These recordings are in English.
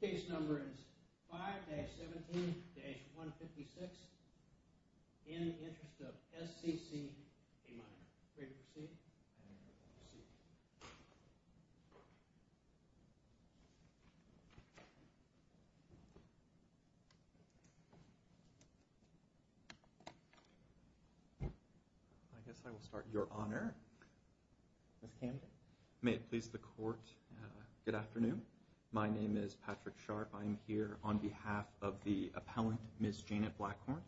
The case number is 5-17-156, In Interest of S.C.C., A minor. Ready to proceed? I am ready to proceed. I guess I will start. Your Honor. Mr. Camden. May it please the Court, good afternoon. My name is Patrick Sharp. I am here on behalf of the appellant, Ms. Janet Blackhorn.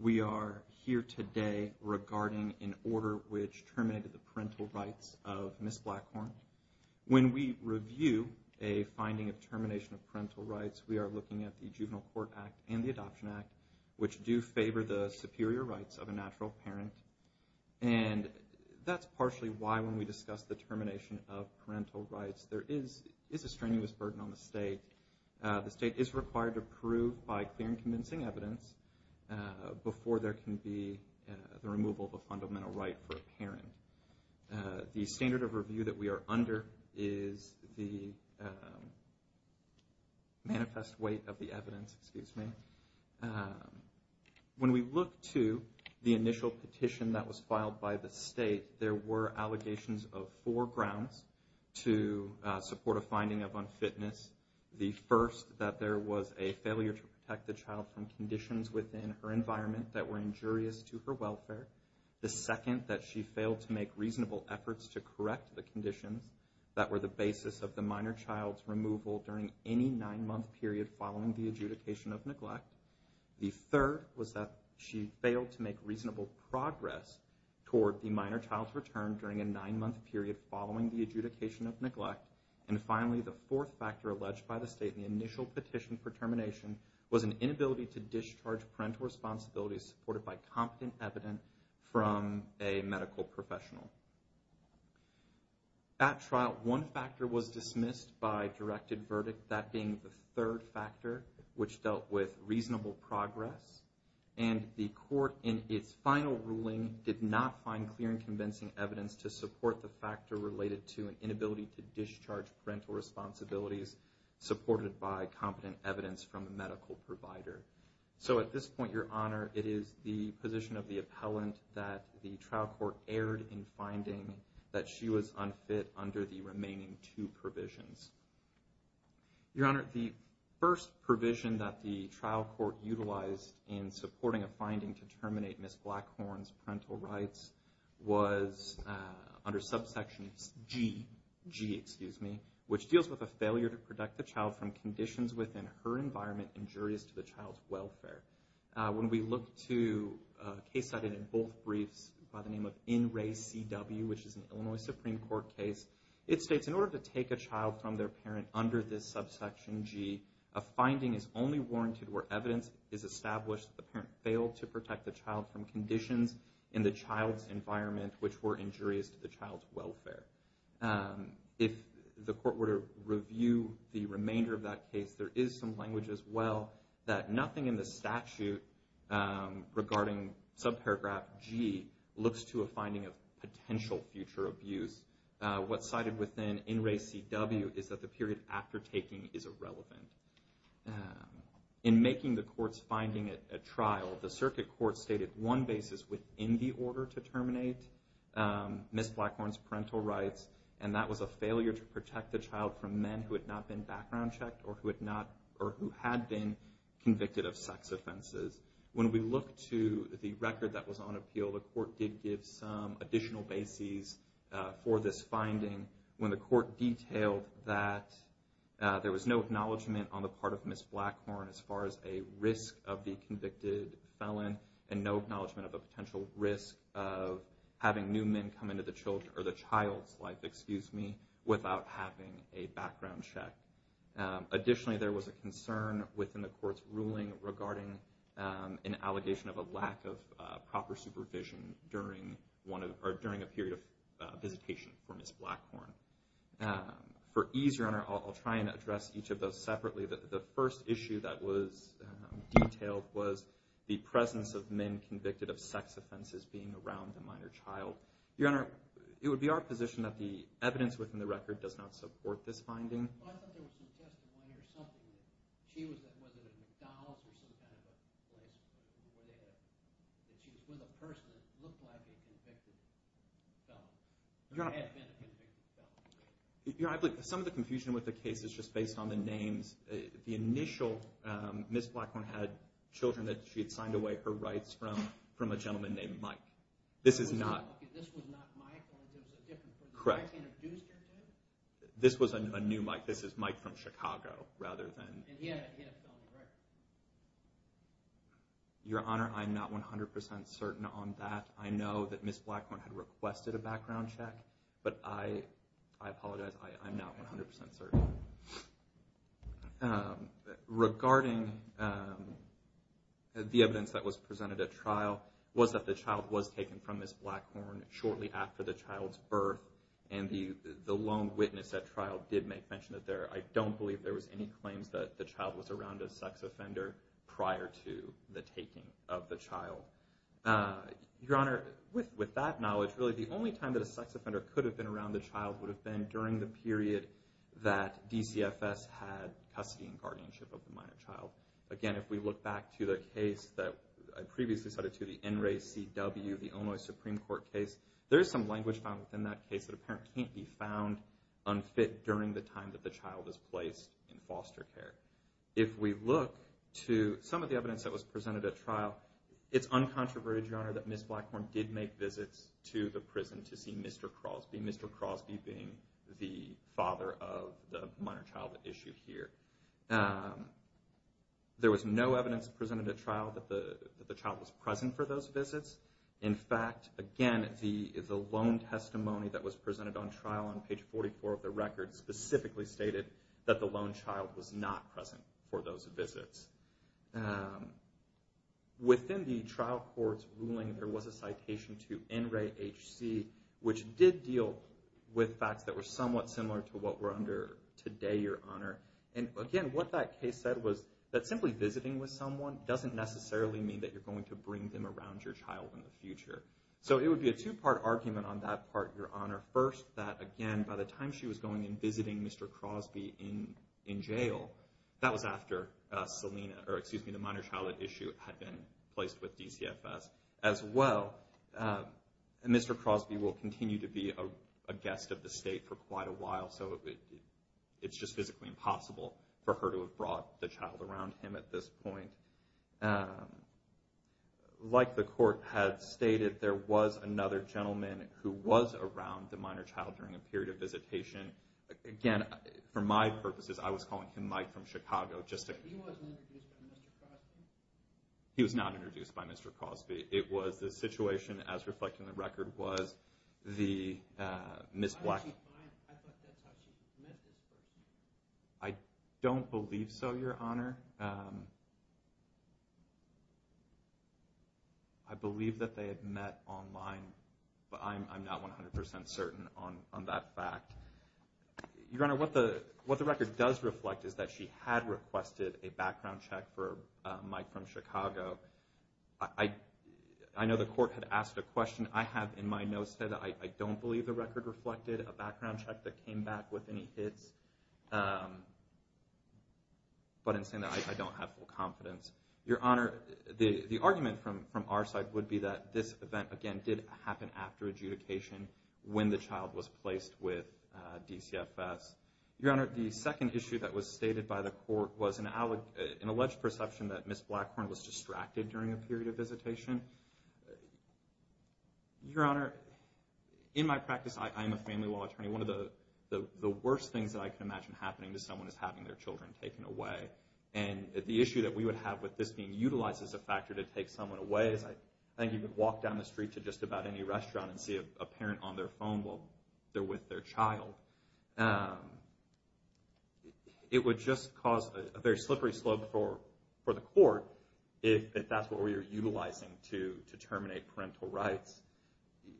We are here today regarding an order which terminated the parental rights of Ms. Blackhorn. When we review a finding of termination of parental rights, we are looking at the Juvenile Court Act and the Adoption Act, which do favor the superior rights of a natural parent. And that is partially why when we discuss the termination of parental rights, there is a strenuous burden on the State. The State is required to prove by clear and convincing evidence before there can be the removal of a fundamental right for a parent. The standard of review that we are under is the manifest weight of the evidence. When we look to the initial petition that was filed by the State, there were allegations of four grounds to support a finding of unfitness. The first, that there was a failure to protect the child from conditions within her environment that were injurious to her welfare. The second, that she failed to make reasonable efforts to correct the conditions that were the basis of the minor child's removal during any nine-month period following the adjudication of neglect. The third was that she failed to make reasonable progress toward the minor child's return during a nine-month period following the adjudication of neglect. And finally, the fourth factor alleged by the State in the initial petition for termination was an inability to discharge parental responsibilities supported by competent evidence from a medical professional. At trial, one factor was dismissed by directed verdict, that being the third factor, which dealt with reasonable progress. And the court, in its final ruling, did not find clear and convincing evidence to support the factor related to an inability to discharge parental responsibilities supported by competent evidence from a medical provider. So at this point, Your Honor, it is the position of the appellant that the trial court erred in finding that she was unfit under the remaining two provisions. Your Honor, the first provision that the trial court utilized in supporting a finding to terminate Ms. Blackhorn's parental rights was under subsection G, G, excuse me, which deals with a failure to protect the child from conditions within her environment injurious to the child's welfare. When we look to a case cited in both briefs by the name of In Re CW, which is an Illinois Supreme Court case, it states in order to take a child from their parent under this subsection G, a finding is only warranted where evidence is established that the parent failed to protect the child from conditions in the child's environment which were injurious to the child's welfare. If the court were to review the remainder of that case, there is some language as well that nothing in the statute regarding subparagraph G looks to a finding of potential future abuse. What's cited within In Re CW is that the period after taking is irrelevant. In making the court's finding at trial, the circuit court stated one basis within the order to terminate Ms. Blackhorn's parental rights, and that was a failure to protect the child from men who had not been background checked or who had been convicted of sex offenses. When we look to the record that was on appeal, the court did give some additional bases for this finding. When the court detailed that there was no acknowledgement on the part of Ms. Blackhorn as far as a risk of the convicted felon and no acknowledgement of a potential risk of having new men come into the child's life without having a background check. Additionally, there was a concern within the court's ruling regarding an allegation of a lack of proper supervision during a period of visitation for Ms. Blackhorn. For ease, Your Honor, I'll try and address each of those separately. The first issue that was detailed was the presence of men convicted of sex offenses being around a minor child. Your Honor, it would be our position that the evidence within the record does not support this finding. I thought there was some testimony or something. Was it at McDonald's or some kind of a place where she was with a person that looked like a convicted felon or had been a convicted felon? Your Honor, some of the confusion with the case is just based on the names. The initial Ms. Blackhorn had children that she had signed away her rights from from a gentleman named Mike. This was not Mike? Correct. Mike introduced her to him? This was a new Mike. This is Mike from Chicago rather than... And he had a felony record. Your Honor, I'm not 100% certain on that. I know that Ms. Blackhorn had requested a background check, but I apologize. I'm not 100% certain. Regarding the evidence that was presented at trial, it was that the child was taken from Ms. Blackhorn shortly after the child's birth, and the lone witness at trial did make mention of that. I don't believe there was any claims that the child was around a sex offender prior to the taking of the child. Your Honor, with that knowledge, really the only time that a sex offender could have been around the child would have been during the period that DCFS had custody and guardianship of the minor child. Again, if we look back to the case that I previously cited to you, the NRACW, the Illinois Supreme Court case, there is some language found within that case that apparently can't be found unfit during the time that the child is placed in foster care. If we look to some of the evidence that was presented at trial, it's uncontroverted, Your Honor, that Ms. Blackhorn did make visits to the prison to see Mr. Crosby, Mr. Crosby being the father of the minor child at issue here. There was no evidence presented at trial that the child was present for those visits. In fact, again, the lone testimony that was presented on trial on page 44 of the record specifically stated that the lone child was not present for those visits. Within the trial court's ruling, there was a citation to NRAHC, which did deal with facts that were somewhat similar to what we're under today, Your Honor. And again, what that case said was that simply visiting with someone doesn't necessarily mean that you're going to bring them around your child in the future. So it would be a two-part argument on that part, Your Honor. First, that again, by the time she was going and visiting Mr. Crosby in jail, that was after the minor child at issue had been placed with DCFS. As well, Mr. Crosby will continue to be a guest of the state for quite a while, so it's just physically impossible for her to have brought the child around him at this point. Like the court had stated, there was another gentleman who was around the minor child during a period of visitation. Again, for my purposes, I was calling him Mike from Chicago just to— He wasn't introduced by Mr. Crosby? He was not introduced by Mr. Crosby. It was the situation as reflected in the record was the Ms. Black— I thought that's how she met this person. I don't believe so, Your Honor. I believe that they had met online, but I'm not 100% certain on that fact. Your Honor, what the record does reflect is that she had requested a background check for Mike from Chicago. I know the court had asked a question. I have in my notes said that I don't believe the record reflected a background check that came back with any hits. But in saying that, I don't have full confidence. Your Honor, the argument from our side would be that this event, again, did happen after adjudication when the child was placed with DCFS. Your Honor, the second issue that was stated by the court was an alleged perception that Ms. Blackhorn was distracted during a period of visitation. Your Honor, in my practice, I am a family law attorney. One of the worst things that I can imagine happening to someone is having their children taken away. And the issue that we would have with this being utilized as a factor to take someone away is I think you could walk down the street to just about any restaurant and see a parent on their phone while they're with their child. It would just cause a very slippery slope for the court if that's what we were utilizing to terminate parental rights.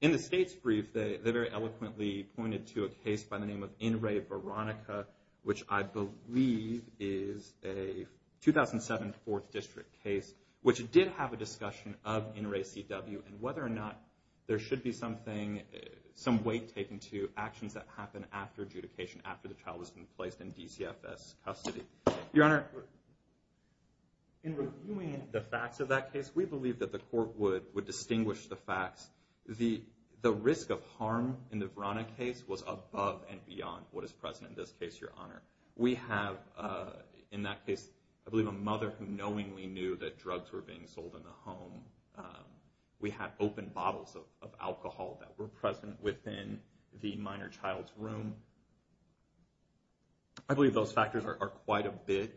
In the state's brief, they very eloquently pointed to a case by the name of In Re Veronica, which I believe is a 2007 Fourth District case, which did have a discussion of In Re CW and whether or not there should be some weight taken to actions that happen after adjudication after the child has been placed in DCFS custody. Your Honor, in reviewing the facts of that case, we believe that the court would distinguish the facts. The risk of harm in the Veronica case was above and beyond what is present in this case, Your Honor. We have, in that case, I believe a mother who knowingly knew that drugs were being sold in the home. We had open bottles of alcohol that were present within the minor child's room. I believe those factors are quite a bit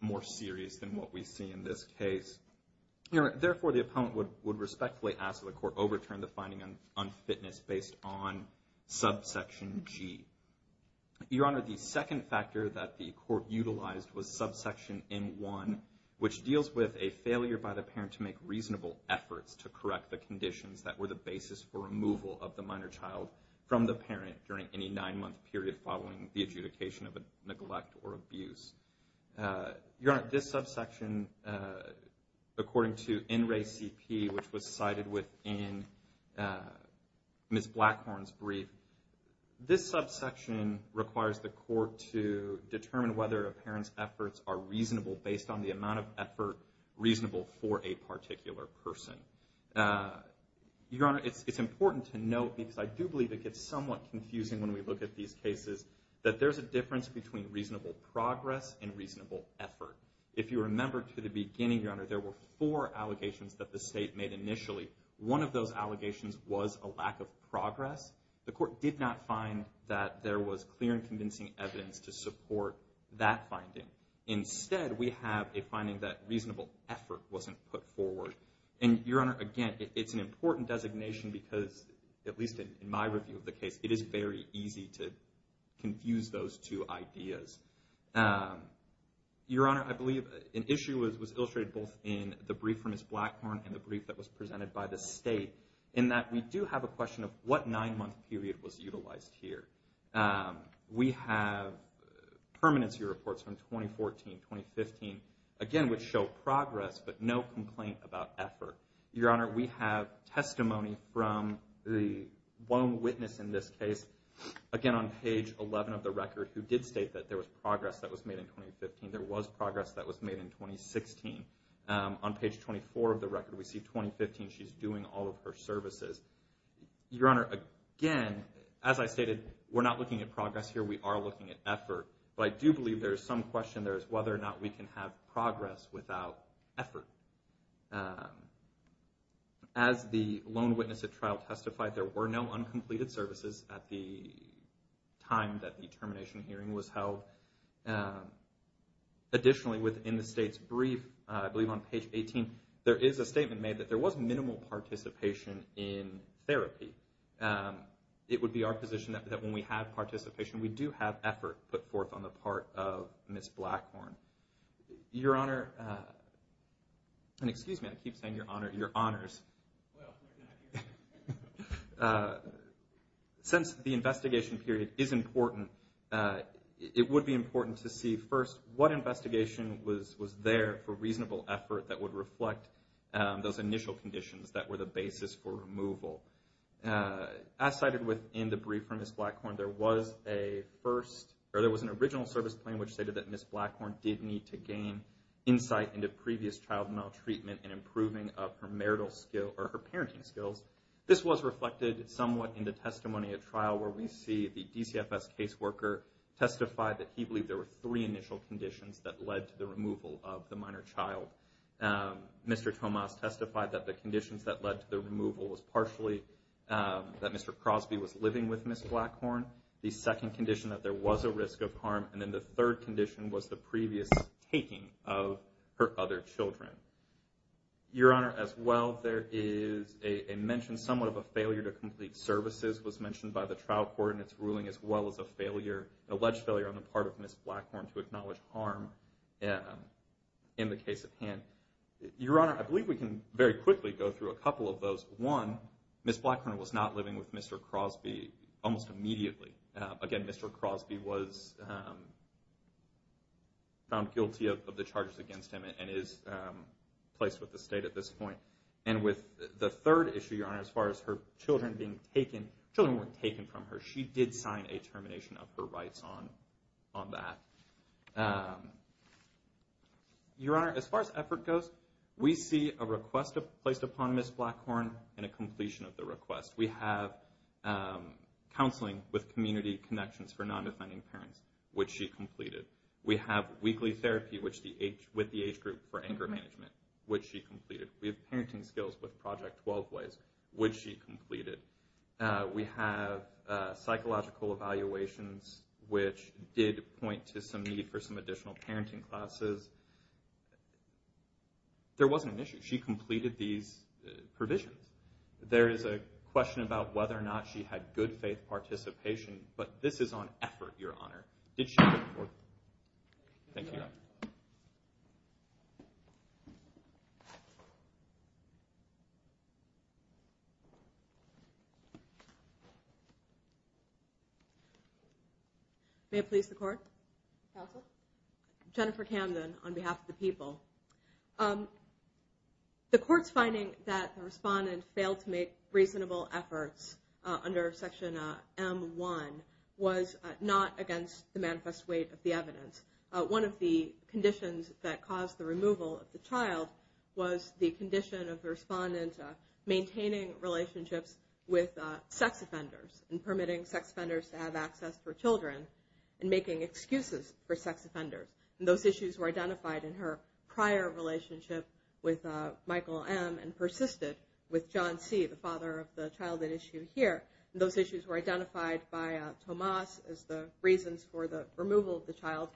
more serious than what we see in this case. Therefore, the opponent would respectfully ask that the court overturn the finding on fitness based on subsection G. Your Honor, the second factor that the court utilized was subsection M1, which deals with a failure by the parent to make reasonable efforts to correct the conditions that were the basis for removal of the minor child from the parent during any nine-month period following the adjudication of a neglect or abuse. Your Honor, this subsection, according to In Re CP, which was cited within Ms. Blackhorn's brief, this subsection requires the court to determine whether a parent's efforts are reasonable based on the amount of effort reasonable for a particular person. Your Honor, it's important to note, because I do believe it gets somewhat confusing when we look at these cases, that there's a difference between reasonable progress and reasonable effort. If you remember to the beginning, Your Honor, there were four allegations that the state made initially. One of those allegations was a lack of progress. The court did not find that there was clear and convincing evidence to support that finding. Instead, we have a finding that reasonable effort wasn't put forward. And, Your Honor, again, it's an important designation because, at least in my review of the case, it is very easy to confuse those two ideas. Your Honor, I believe an issue was illustrated both in the brief from Ms. Blackhorn and the brief that was presented by the state, in that we do have a question of what nine-month period was utilized here. We have permanency reports from 2014, 2015, again, which show progress but no complaint about effort. Your Honor, we have testimony from the lone witness in this case, again, on page 11 of the record, who did state that there was progress that was made in 2015, there was progress that was made in 2016. On page 24 of the record, we see 2015. She's doing all of her services. Your Honor, again, as I stated, we're not looking at progress here. We are looking at effort. But I do believe there is some question there is whether or not we can have progress without effort. As the lone witness at trial testified, there were no uncompleted services at the time that the termination hearing was held. Additionally, within the state's brief, I believe on page 18, there is a statement made that there was minimal participation in therapy. It would be our position that when we have participation, we do have effort put forth on the part of Ms. Blackhorn. Your Honor, and excuse me, I keep saying Your Honors. Well, we're not here. Since the investigation period is important, it would be important to see, first, what investigation was there for reasonable effort that would reflect those initial conditions that were the basis for removal. As cited within the brief from Ms. Blackhorn, there was a first, or there was an original service plan which stated that Ms. Blackhorn did need to gain insight into previous child maltreatment and improving her parenting skills. This was reflected somewhat in the testimony at trial where we see the DCFS caseworker testify that he believed there were three initial conditions that led to the removal of the minor child. Mr. Tomas testified that the conditions that led to the removal was partially that Mr. Crosby was living with Ms. Blackhorn, the second condition that there was a risk of harm, and then the third condition was the previous taking of her other children. Your Honor, as well, there is a mention somewhat of a failure to complete services was mentioned by the trial court in its ruling as well as a alleged failure on the part of Ms. Blackhorn to acknowledge harm in the case at hand. Your Honor, I believe we can very quickly go through a couple of those. One, Ms. Blackhorn was not living with Mr. Crosby almost immediately. Again, Mr. Crosby was found guilty of the charges against him and is placed with the state at this point. And with the third issue, Your Honor, as far as her children being taken, children weren't taken from her. She did sign a termination of her rights on that. Your Honor, as far as effort goes, we see a request placed upon Ms. Blackhorn and a completion of the request. We have counseling with Community Connections for non-defending parents, which she completed. We have weekly therapy with the age group for anger management, which she completed. We have parenting skills with Project 12 Ways, which she completed. We have psychological evaluations, which did point to some need for some additional parenting classes. There wasn't an issue. She completed these provisions. There is a question about whether or not she had good faith participation, but this is on effort, Your Honor. Thank you, Your Honor. May it please the Court? Counsel? Jennifer Camden on behalf of the people. The Court's finding that the respondent failed to make reasonable efforts under Section M-1 was not against the manifest weight of the evidence. One of the conditions that caused the removal of the child was the condition of the respondent maintaining relationships with sex offenders and permitting sex offenders to have access for children and making excuses for sex offenders. Those issues were identified in her prior relationship with Michael M. and persisted with John C., the father of the child at issue here. Those issues were identified by Tomas as the reasons for the removal of the child